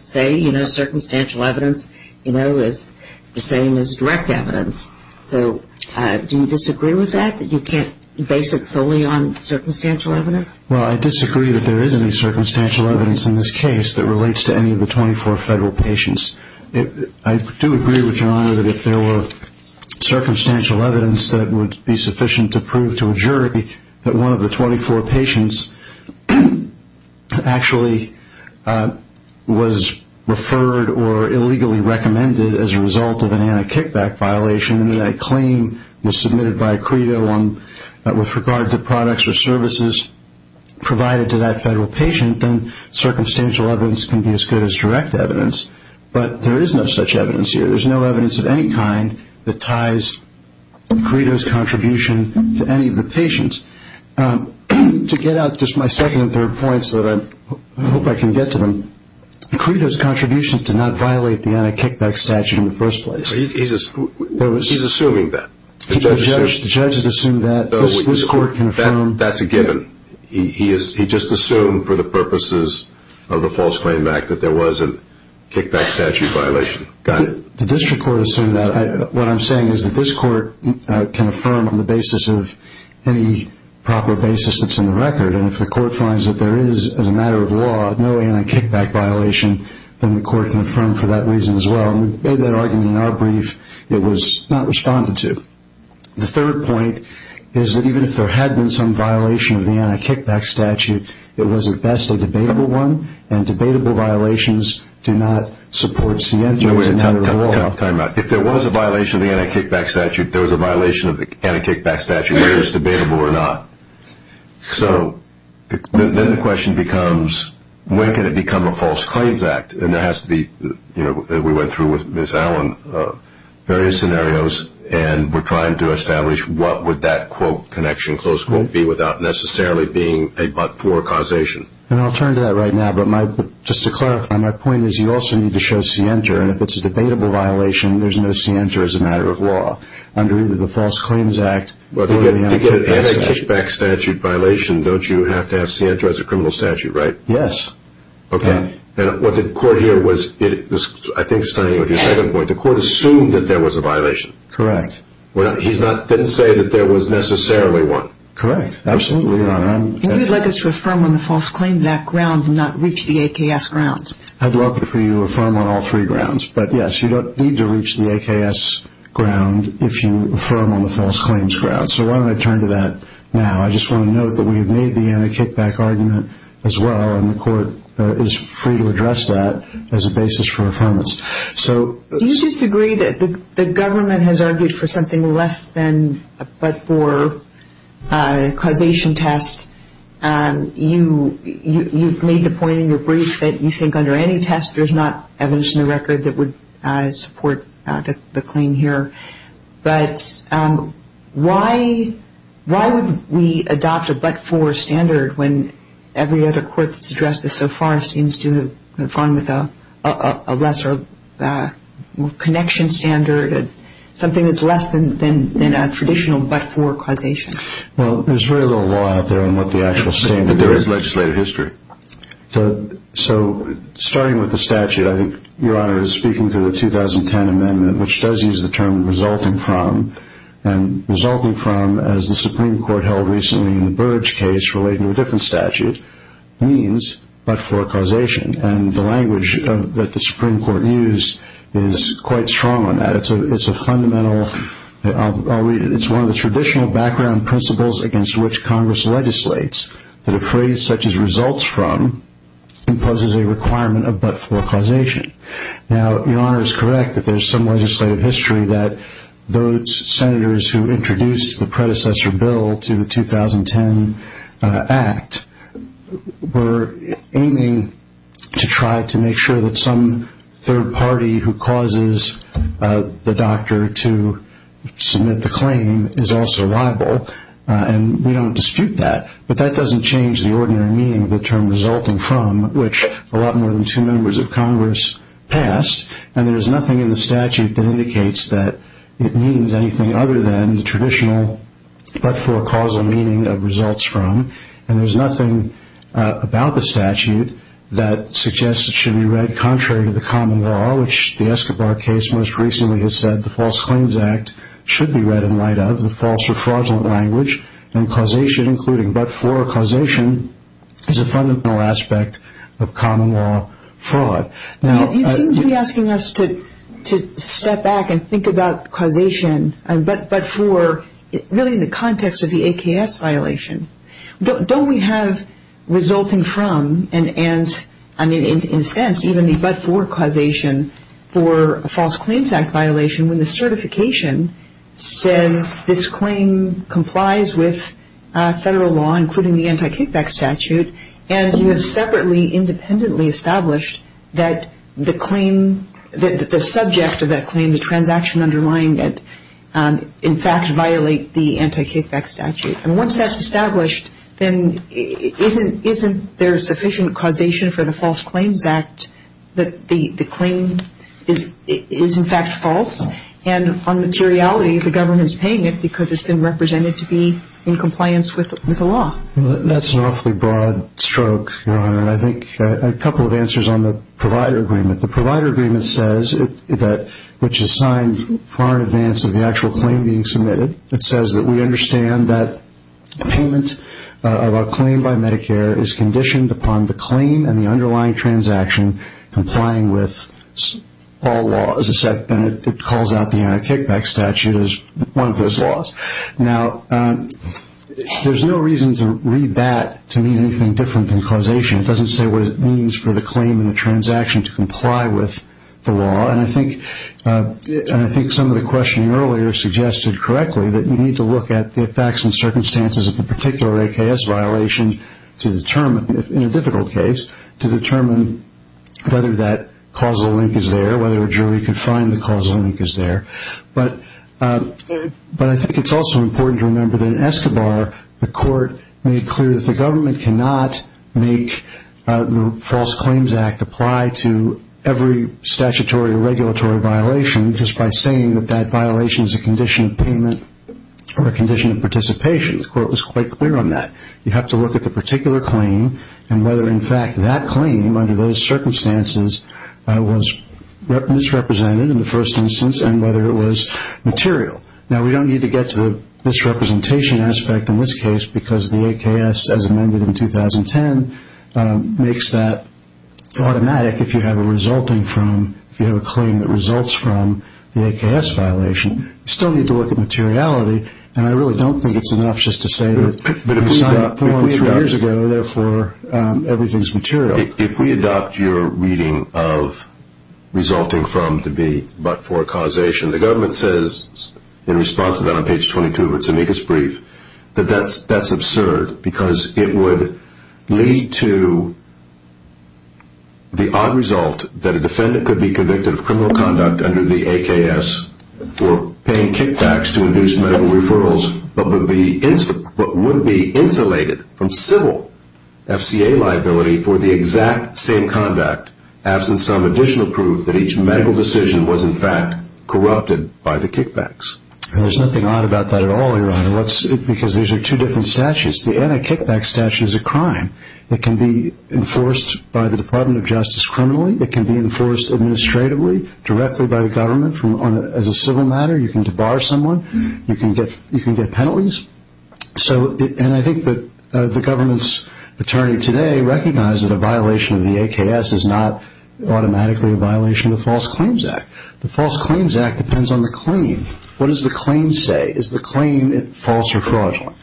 say circumstantial evidence is the same as direct evidence. So do you disagree with that, that you can't base it solely on circumstantial evidence? Well, I disagree that there is any circumstantial evidence in this case that relates to any of the 24 federal patients. I do agree with your Honor that if there were circumstantial evidence that would be sufficient to prove to a jury that one of the 24 patients actually was referred or illegally recommended as a result of an anti-kickback violation and that claim was submitted by O2Credo with regard to products or services provided to that federal patient, then circumstantial evidence can be as good as direct evidence. But there is no such evidence here. There's no evidence of any kind that ties O2Credo's contribution to any of the patients. To get out just my second and third points that I hope I can get to them, O2Credo's contribution did not violate the anti-kickback statute in the first place. He's assuming that. The judge has assumed that. This court can affirm. That's a given. He just assumed for the purposes of a false claim back that there was a kickback statute violation. Got it. The district court assumed that. What I'm saying is that this court can affirm on the basis of any proper basis that's in the record. And if the court finds that there is, as a matter of law, no anti-kickback violation, then the court can affirm for that reason as well. And we made that argument in our brief. It was not responded to. The third point is that even if there had been some violation of the anti-kickback statute, it was, at best, a debatable one. And debatable violations do not support CFJ as a matter of law. Time out. If there was a violation of the anti-kickback statute, there was a violation of the anti-kickback statute whether it was debatable or not. So then the question becomes, when can it become a false claims act? We went through with Ms. Allen various scenarios, and we're trying to establish what would that, quote, connection, close quote, be without necessarily being a but-for causation. And I'll turn to that right now. But just to clarify, my point is you also need to show scienter. And if it's a debatable violation, there's no scienter as a matter of law. Under either the false claims act or the anti-kickback statute. To get an anti-kickback statute violation, don't you have to have scienter as a criminal statute, right? Yes. Okay. And what the court here was, I think, studying with your second point, the court assumed that there was a violation. Correct. He didn't say that there was necessarily one. Correct. Absolutely not. And you'd like us to affirm on the false claims act ground and not reach the AKS ground. I'd welcome for you to affirm on all three grounds. But, yes, you don't need to reach the AKS ground if you affirm on the false claims ground. So why don't I turn to that now. I just want to note that we have made the anti-kickback argument as well, and the court is free to address that as a basis for affirmance. Do you disagree that the government has argued for something less than a but-for causation test? You've made the point in your brief that you think under any test, there's not evidence in the record that would support the claim here. But why would we adopt a but-for standard when every other court that's addressed this so far seems to conform with a lesser connection standard, something that's less than a traditional but-for causation? Well, there's very little law out there on what the actual standard is. But there is legislative history. So starting with the statute, I think, Your Honor, is speaking to the 2010 amendment, which does use the term resulting from. And resulting from, as the Supreme Court held recently in the Burge case, relating to a different statute, means but-for causation. And the language that the Supreme Court used is quite strong on that. It's a fundamental – I'll read it. It's one of the traditional background principles against which Congress legislates, that a phrase such as results from imposes a requirement of but-for causation. Now, Your Honor is correct that there's some legislative history that those senators who introduced the predecessor bill to the 2010 act were aiming to try to make sure that some third party who causes the doctor to submit the claim is also liable. And we don't dispute that. But that doesn't change the ordinary meaning of the term resulting from, which a lot more than two members of Congress passed. And there's nothing in the statute that indicates that it means anything other than the traditional but-for causal meaning of results from. And there's nothing about the statute that suggests it should be read contrary to the common law, which the Escobar case most recently has said the False Claims Act should be read in light of, the false or fraudulent language. And causation, including but-for causation, is a fundamental aspect of common law fraud. You seem to be asking us to step back and think about causation, but-for really in the context of the AKS violation. Don't we have resulting from and, in a sense, even the but-for causation for a False Claims Act violation when the certification says this claim complies with federal law, including the anti-kickback statute, and you have separately independently established that the claim, the subject of that claim, the transaction underlying it, in fact, violate the anti-kickback statute. And once that's established, then isn't there sufficient causation for the False Claims Act that the claim is, in fact, false? And on materiality, the government is paying it because it's been represented to be in compliance with the law. That's an awfully broad stroke, Your Honor. And I think a couple of answers on the provider agreement. The provider agreement says that, which is signed far in advance of the actual claim being submitted, it says that we understand that payment of a claim by Medicare is conditioned upon the claim and the underlying transaction complying with all laws, and it calls out the anti-kickback statute as one of those laws. Now, there's no reason to read that to mean anything different than causation. It doesn't say what it means for the claim and the transaction to comply with the law, and I think some of the questioning earlier suggested correctly that you need to look at the facts and circumstances of the particular AKS violation to determine, in a difficult case, to determine whether that causal link is there, whether a jury could find the causal link is there. But I think it's also important to remember that in Escobar, the court made clear that the government cannot make the False Claims Act apply to every statutory or regulatory violation just by saying that that violation is a condition of payment or a condition of participation. The court was quite clear on that. You have to look at the particular claim and whether, in fact, that claim, under those circumstances, was misrepresented in the first instance and whether it was material. Now, we don't need to get to the misrepresentation aspect in this case because the AKS, as amended in 2010, makes that automatic if you have a claim that results from the AKS violation. You still need to look at materiality, and I really don't think it's enough just to say that you signed it four or three years ago, therefore everything is material. If we adopt your reading of resulting from to be but for causation, the government says in response to that on page 22 of its amicus brief that that's absurd because it would lead to the odd result that a defendant could be convicted of criminal conduct under the AKS for paying kickbacks to induce medical referrals but would be insulated from civil FCA liability for the exact same conduct absent some additional proof that each medical decision was, in fact, corrupted by the kickbacks. There's nothing odd about that at all, Your Honor, because these are two different statutes. The anti-kickback statute is a crime that can be enforced by the Department of Justice criminally. It can be enforced administratively directly by the government as a civil matter. You can debar someone. You can get penalties. And I think that the government's attorney today recognized that a violation of the AKS is not automatically a violation of the False Claims Act. The False Claims Act depends on the claim. What does the claim say? Is the claim false or fraudulent?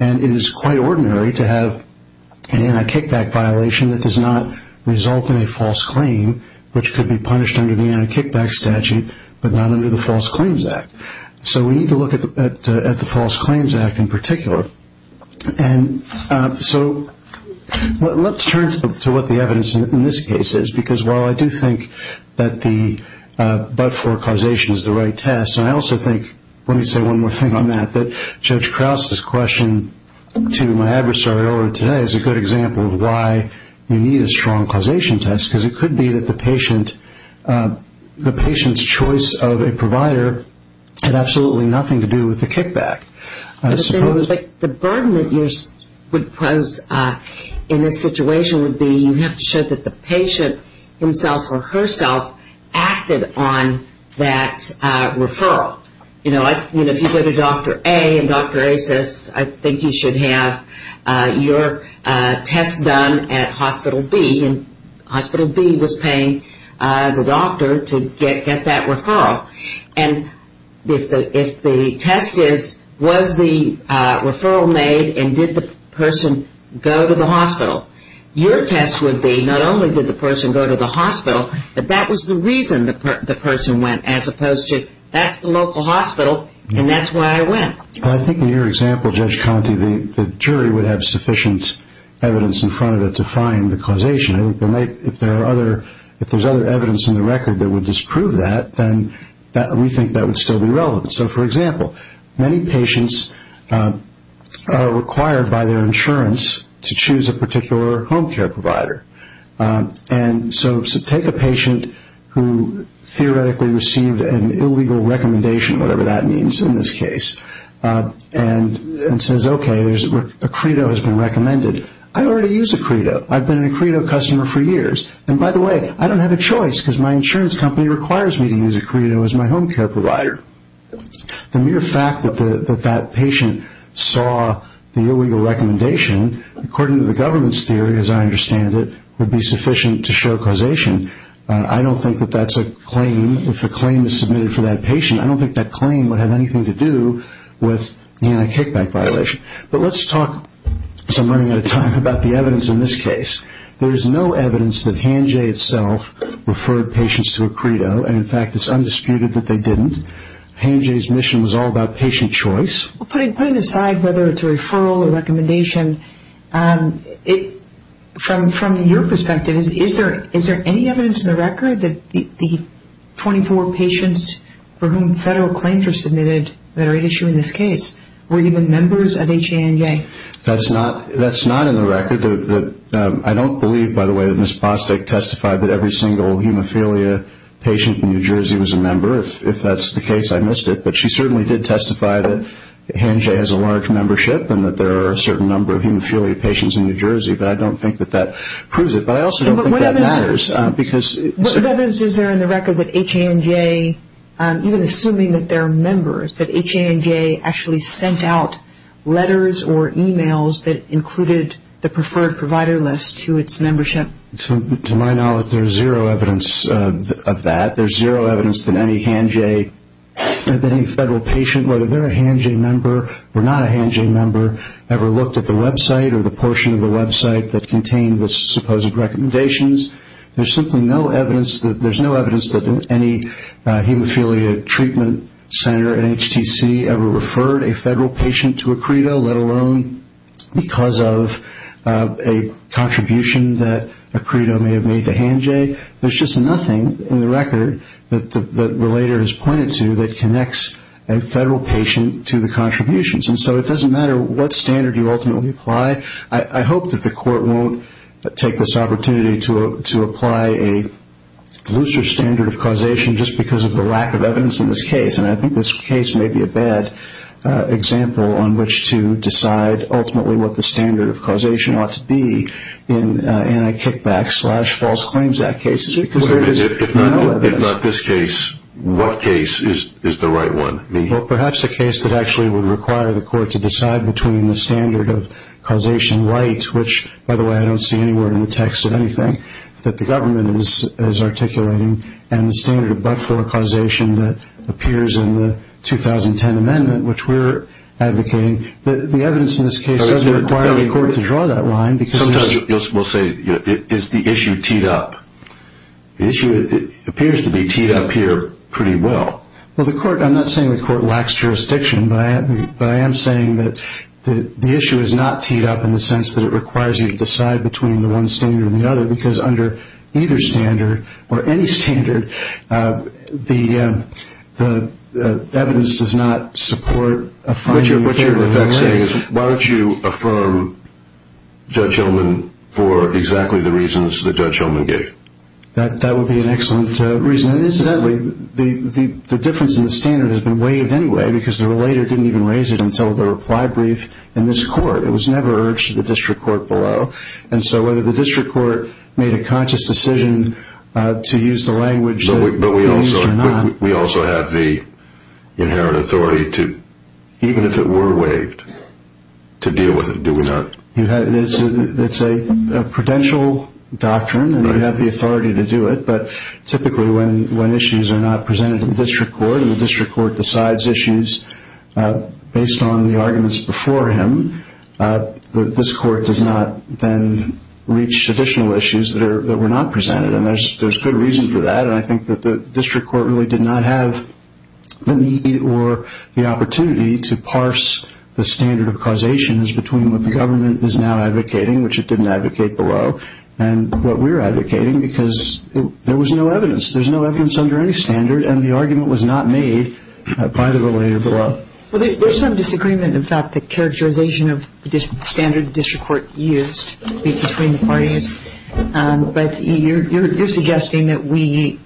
And it is quite ordinary to have an anti-kickback violation that does not result in a false claim which could be punished under the anti-kickback statute but not under the False Claims Act. So we need to look at the False Claims Act in particular. And so let's turn to what the evidence in this case is because while I do think that the but-for causation is the right test, and I also think, let me say one more thing on that, that Judge Krause's question to my adversary over today is a good example of why you need a strong causation test because it could be that the patient's choice of a provider had absolutely nothing to do with the kickback. But the burden that you would pose in this situation would be you have to show that the patient himself or herself acted on that referral. You know, if you go to Dr. A and Dr. A says, I think you should have your test done at Hospital B, and Hospital B was paying the doctor to get that referral. And if the test is, was the referral made and did the person go to the hospital, your test would be not only did the person go to the hospital, but that was the reason the person went as opposed to, that's the local hospital and that's why I went. I think in your example, Judge Conte, the jury would have sufficient evidence in front of it to find the causation. If there's other evidence in the record that would disprove that, then we think that would still be relevant. So, for example, many patients are required by their insurance to choose a particular home care provider. And so take a patient who theoretically received an illegal recommendation, whatever that means in this case, and says, okay, a credo has been recommended. I already use a credo. I've been a credo customer for years. And, by the way, I don't have a choice, because my insurance company requires me to use a credo as my home care provider. The mere fact that that patient saw the illegal recommendation, according to the government's theory, as I understand it, would be sufficient to show causation. I don't think that that's a claim. If a claim is submitted for that patient, I don't think that claim would have anything to do with the anti-kickback violation. But let's talk, because I'm running out of time, about the evidence in this case. There is no evidence that Hanjay itself referred patients to a credo. And, in fact, it's undisputed that they didn't. Hanjay's mission was all about patient choice. Putting aside whether it's a referral or recommendation, from your perspective, is there any evidence in the record that the 24 patients for whom federal claims were submitted that are at issue in this case were even members of HANJ? That's not in the record. I don't believe, by the way, that Ms. Bostic testified that every single hemophilia patient in New Jersey was a member. If that's the case, I missed it. But she certainly did testify that HANJ has a large membership and that there are a certain number of hemophilia patients in New Jersey. But I don't think that that proves it. But I also don't think that matters. What evidence is there in the record that HANJ, even assuming that they're members, that HANJ actually sent out letters or e-mails that included the preferred provider list to its membership? To my knowledge, there's zero evidence of that. There's zero evidence that any HANJ, that any federal patient, whether they're a HANJ member or not a HANJ member, ever looked at the website or the portion of the website that contained the supposed recommendations. There's simply no evidence that any hemophilia treatment center at HTC ever referred a federal patient to a credo, let alone because of a contribution that a credo may have made to HANJ. There's just nothing in the record that Relator has pointed to that connects a federal patient to the contributions. And so it doesn't matter what standard you ultimately apply. I hope that the Court won't take this opportunity to apply a looser standard of causation just because of the lack of evidence in this case. And I think this case may be a bad example on which to decide ultimately what the standard of causation ought to be in anti-kickback slash false claims act cases because there is no evidence. If not this case, what case is the right one? Perhaps a case that actually would require the Court to decide between the standard of causation right, which, by the way, I don't see anywhere in the text of anything that the government is articulating, and the standard of but-for causation that appears in the 2010 amendment, which we're advocating. The evidence in this case doesn't require the Court to draw that line. Sometimes we'll say, is the issue teed up? The issue appears to be teed up here pretty well. Well, I'm not saying the Court lacks jurisdiction, but I am saying that the issue is not teed up in the sense that it requires you to decide between the one standard and the other because under either standard or any standard, the evidence does not support a finding here. What you're in effect saying is why don't you affirm Judge Hillman for exactly the reasons that Judge Hillman gave? That would be an excellent reason. Incidentally, the difference in the standard has been waived anyway because the relator didn't even raise it until the reply brief in this Court. It was never urged to the District Court below, and so whether the District Court made a conscious decision to use the language that it used or not. But we also have the inherent authority to, even if it were waived, to deal with it, do we not? It's a prudential doctrine, and we have the authority to do it, but typically when issues are not presented in the District Court and the District Court decides issues based on the arguments before him, this Court does not then reach additional issues that were not presented, and there's good reason for that, and I think that the District Court really did not have the need or the opportunity to parse the standard of causations between what the government is now advocating, which it didn't advocate below, and what we're advocating because there was no evidence. There's no evidence under any standard, and the argument was not made by the relator below. Well, there's some disagreement, in fact, the characterization of the standard the District Court used between the parties, but you're suggesting that we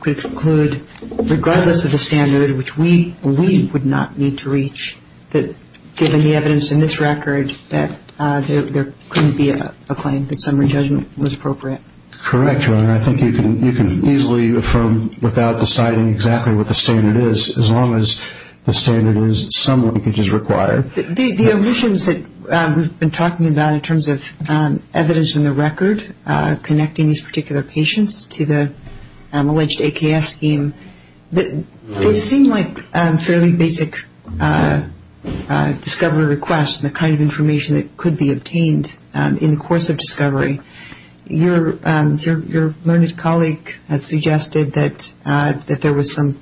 could conclude, regardless of the standard, which we believe would not need to reach, that given the evidence in this record that there couldn't be a claim, that summary judgment was appropriate. Correct, Ron. I think you can easily affirm without deciding exactly what the standard is, as long as the standard is some linkage is required. The omissions that we've been talking about in terms of evidence in the record connecting these particular patients to the alleged AKS scheme, they seem like fairly basic discovery requests, Your learned colleague has suggested that there was some,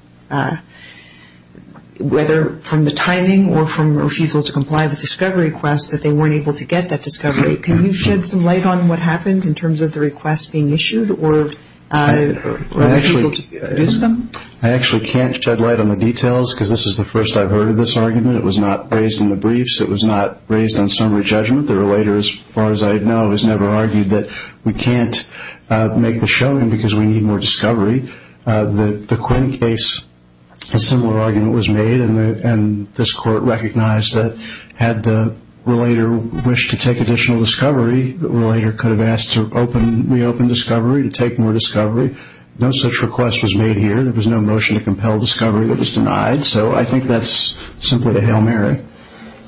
whether from the timing or from refusal to comply with discovery requests, that they weren't able to get that discovery. Can you shed some light on what happened in terms of the requests being issued or refusal to produce them? I actually can't shed light on the details because this is the first I've heard of this argument. It was not raised in the briefs. It was not raised on summary judgment. The relator, as far as I know, has never argued that we can't make the showing because we need more discovery. The Quinn case, a similar argument was made, and this court recognized that had the relator wished to take additional discovery, the relator could have asked to reopen discovery, to take more discovery. No such request was made here. There was no motion to compel discovery that was denied. So I think that's simply a Hail Mary.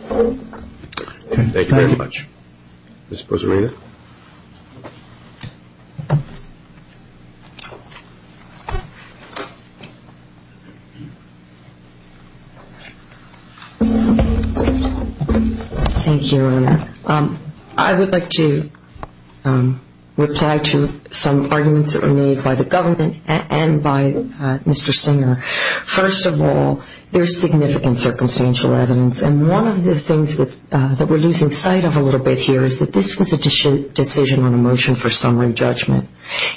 Thank you very much. Ms. Poserena. Thank you, Your Honor. I would like to reply to some arguments that were made by the government and by Mr. Singer. First of all, there's significant circumstantial evidence, and one of the things that we're losing sight of a little bit here is that this was a decision on a motion for summary judgment.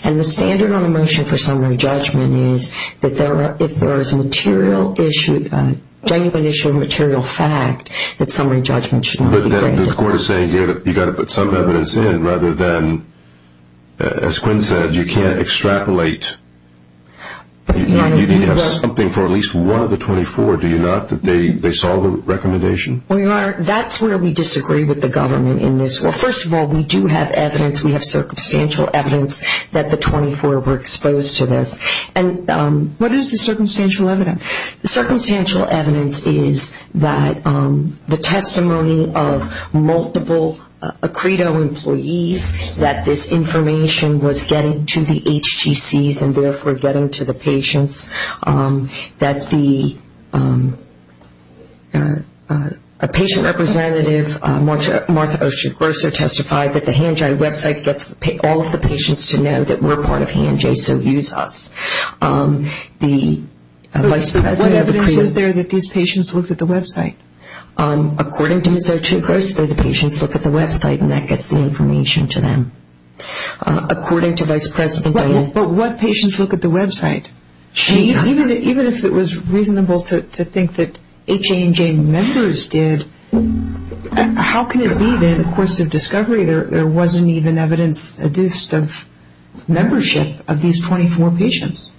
And the standard on a motion for summary judgment is that if there is a genuine issue of material fact, that summary judgment should not be granted. But the court is saying here that you've got to put some evidence in rather than, as Quinn said, you can't extrapolate. You need to have something for at least one of the 24, do you not, that they saw the recommendation? Well, Your Honor, that's where we disagree with the government in this. Well, first of all, we do have evidence. We have circumstantial evidence that the 24 were exposed to this. What is the circumstantial evidence? The circumstantial evidence is that the testimony of multiple Acredo employees that this information was getting to the HTCs and therefore getting to the patients, that a patient representative, Martha Oshagroso, testified that the Hanji website gets all of the patients to know that we're part of Hanji, so use us. What evidence is there that these patients looked at the website? According to Ms. Oshagroso, the patients look at the website and that gets the information to them. According to Vice President Diane. But what patients look at the website? Even if it was reasonable to think that HANJ members did, how can it be that in the course of discovery there wasn't even evidence of membership of these 24 patients?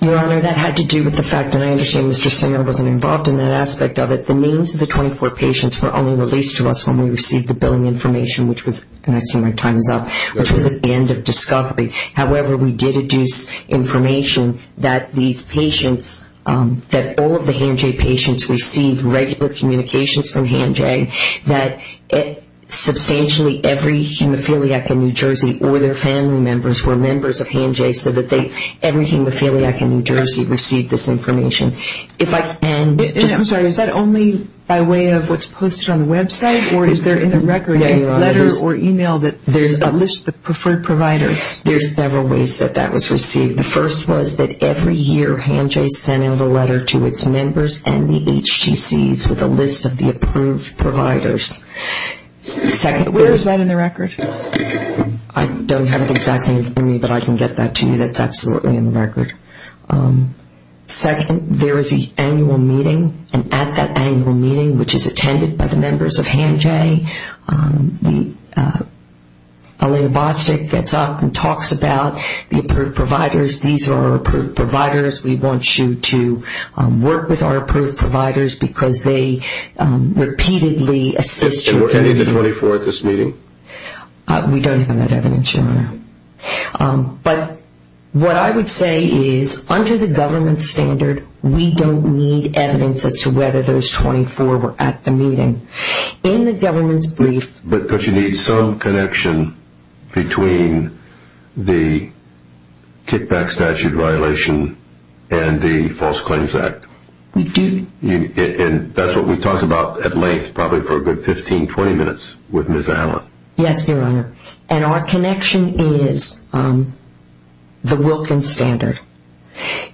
Your Honor, that had to do with the fact, and I understand Mr. Singer wasn't involved in that aspect of it, that the names of the 24 patients were only released to us when we received the billing information, which was, and I see my time is up, which was at the end of discovery. However, we did deduce information that these patients, that all of the Hanji patients received regular communications from Hanji, that substantially every hemophiliac in New Jersey or their family members were members of Hanji, so that every hemophiliac in New Jersey received this information. I'm sorry, is that only by way of what's posted on the website? Or is there in the record a letter or email that lists the preferred providers? There's several ways that that was received. The first was that every year Hanji sent out a letter to its members and the HTCs with a list of the approved providers. Where is that in the record? I don't have it exactly in front of me, but I can get that to you. That's absolutely in the record. Second, there is an annual meeting, and at that annual meeting, which is attended by the members of Hanji, Alena Bostic gets up and talks about the approved providers. These are our approved providers. We want you to work with our approved providers because they repeatedly assist you. Were any of the 24 at this meeting? We don't have that evidence, Your Honor. But what I would say is, under the government standard, we don't need evidence as to whether those 24 were at the meeting. In the government's brief— But you need some connection between the kickback statute violation and the False Claims Act. We do. And that's what we talked about at length probably for a good 15, 20 minutes with Ms. Allen. Yes, Your Honor. And our connection is the Wilkins standard.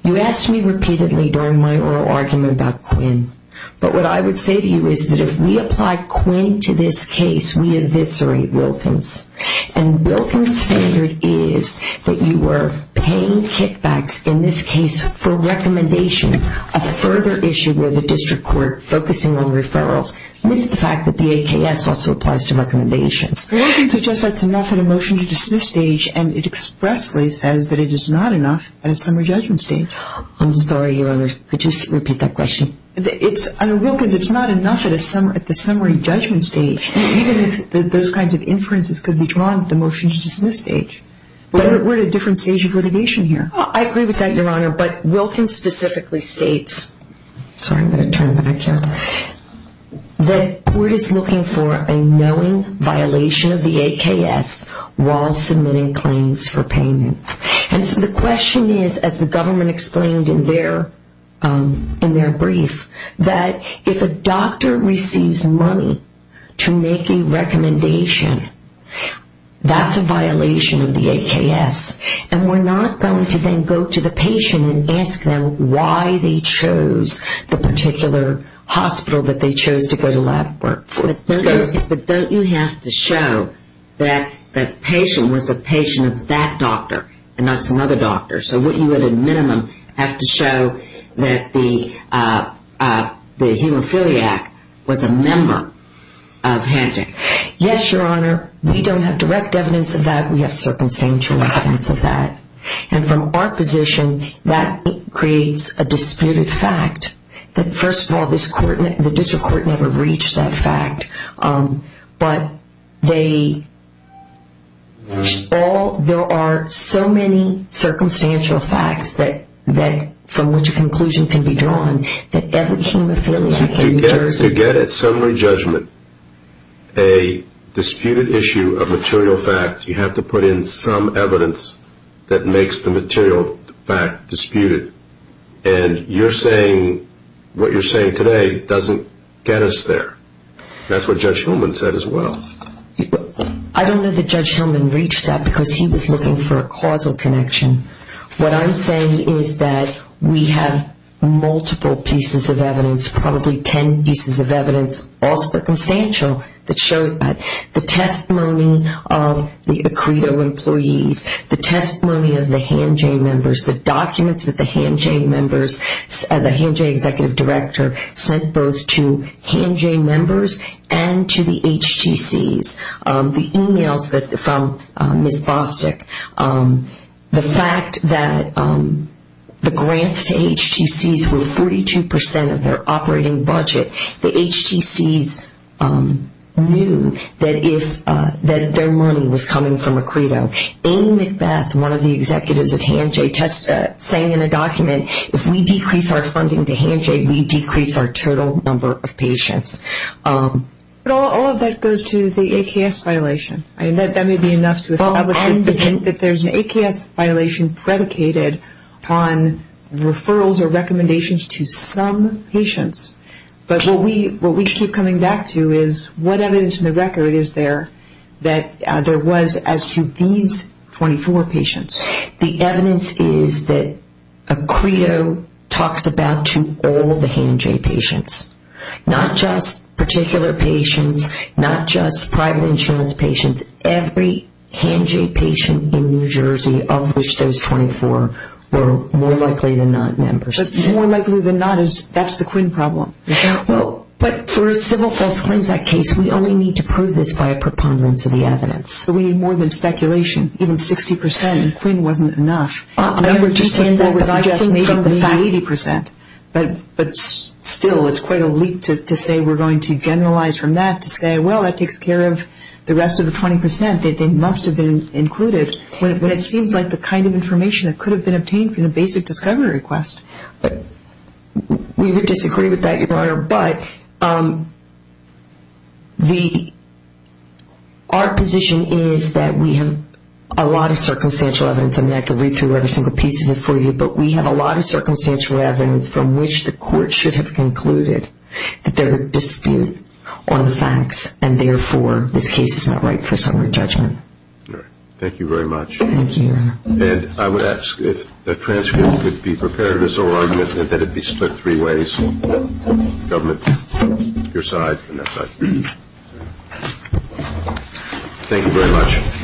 You asked me repeatedly during my oral argument about Quinn, but what I would say to you is that if we apply Quinn to this case, we eviscerate Wilkins. And Wilkins' standard is that you were paying kickbacks in this case for recommendations, a further issue where the district court focusing on referrals. This is the fact that the AKS also applies to recommendations. Wilkins suggests that's enough at a motion-to-dismiss stage, and it expressly says that it is not enough at a summary judgment stage. I'm sorry, Your Honor. Could you repeat that question? I mean, Wilkins, it's not enough at the summary judgment stage, even if those kinds of inferences could be drawn at the motion-to-dismiss stage. We're at a different stage of litigation here. I agree with that, Your Honor, but Wilkins specifically states— sorry, I'm going to turn back here— that court is looking for a knowing violation of the AKS while submitting claims for payment. And so the question is, as the government explained in their brief, that if a doctor receives money to make a recommendation, that's a violation of the AKS. And we're not going to then go to the patient and ask them why they chose the particular hospital that they chose to go to lab work for. But don't you have to show that the patient was a patient of that doctor and not some other doctor? So wouldn't you, at a minimum, have to show that the hemophiliac was a member of Hancock? Yes, Your Honor. We don't have direct evidence of that. We have circumstantial evidence of that. And from our position, that creates a disputed fact that, first of all, the district court never reached that fact. But there are so many circumstantial facts from which a conclusion can be drawn that every hemophiliac in New Jersey— To get at summary judgment a disputed issue of material fact, you have to put in some evidence that makes the material fact disputed. And what you're saying today doesn't get us there. That's what Judge Hillman said as well. I don't know that Judge Hillman reached that because he was looking for a causal connection. What I'm saying is that we have multiple pieces of evidence, probably ten pieces of evidence, all circumstantial, that show the testimony of the Acredo employees, the testimony of the Han J members, the documents that the Han J executive director sent both to Han J members and to the HTCs, the emails from Ms. Bostic, the fact that the grants to HTCs were 42 percent of their operating budget. The HTCs knew that their money was coming from Acredo. Amy McBeth, one of the executives at Han J, sang in a document, if we decrease our funding to Han J, we decrease our total number of patients. But all of that goes to the AKS violation. That may be enough to establish that there's an AKS violation predicated on referrals or recommendations to some patients. But what we keep coming back to is what evidence in the record is there that there was as to these 24 patients. The evidence is that Acredo talks about to all the Han J patients, not just particular patients, not just private insurance patients, every Han J patient in New Jersey of which those 24 were more likely than not members. More likely than not, that's the Quinn problem. But for civil false claims, that case, we only need to prove this by a preponderance of the evidence. We need more than speculation, even 60 percent. Quinn wasn't enough. I understand that, but I think from the facts. But still, it's quite a leap to say we're going to generalize from that, to say, well, that takes care of the rest of the 20 percent. They must have been included. It seems like the kind of information that could have been obtained from the basic discovery request. We would disagree with that, Your Honor, but our position is that we have a lot of circumstantial evidence. I mean, I could read through every single piece of it for you, but we have a lot of circumstantial evidence from which the court should have concluded that there was dispute on the facts, and therefore, this case is not right for summary judgment. Thank you very much. Thank you, Your Honor. And I would ask if the transcript would be prepared or so argument that it be split three ways, government, your side, and that side. Thank you very much.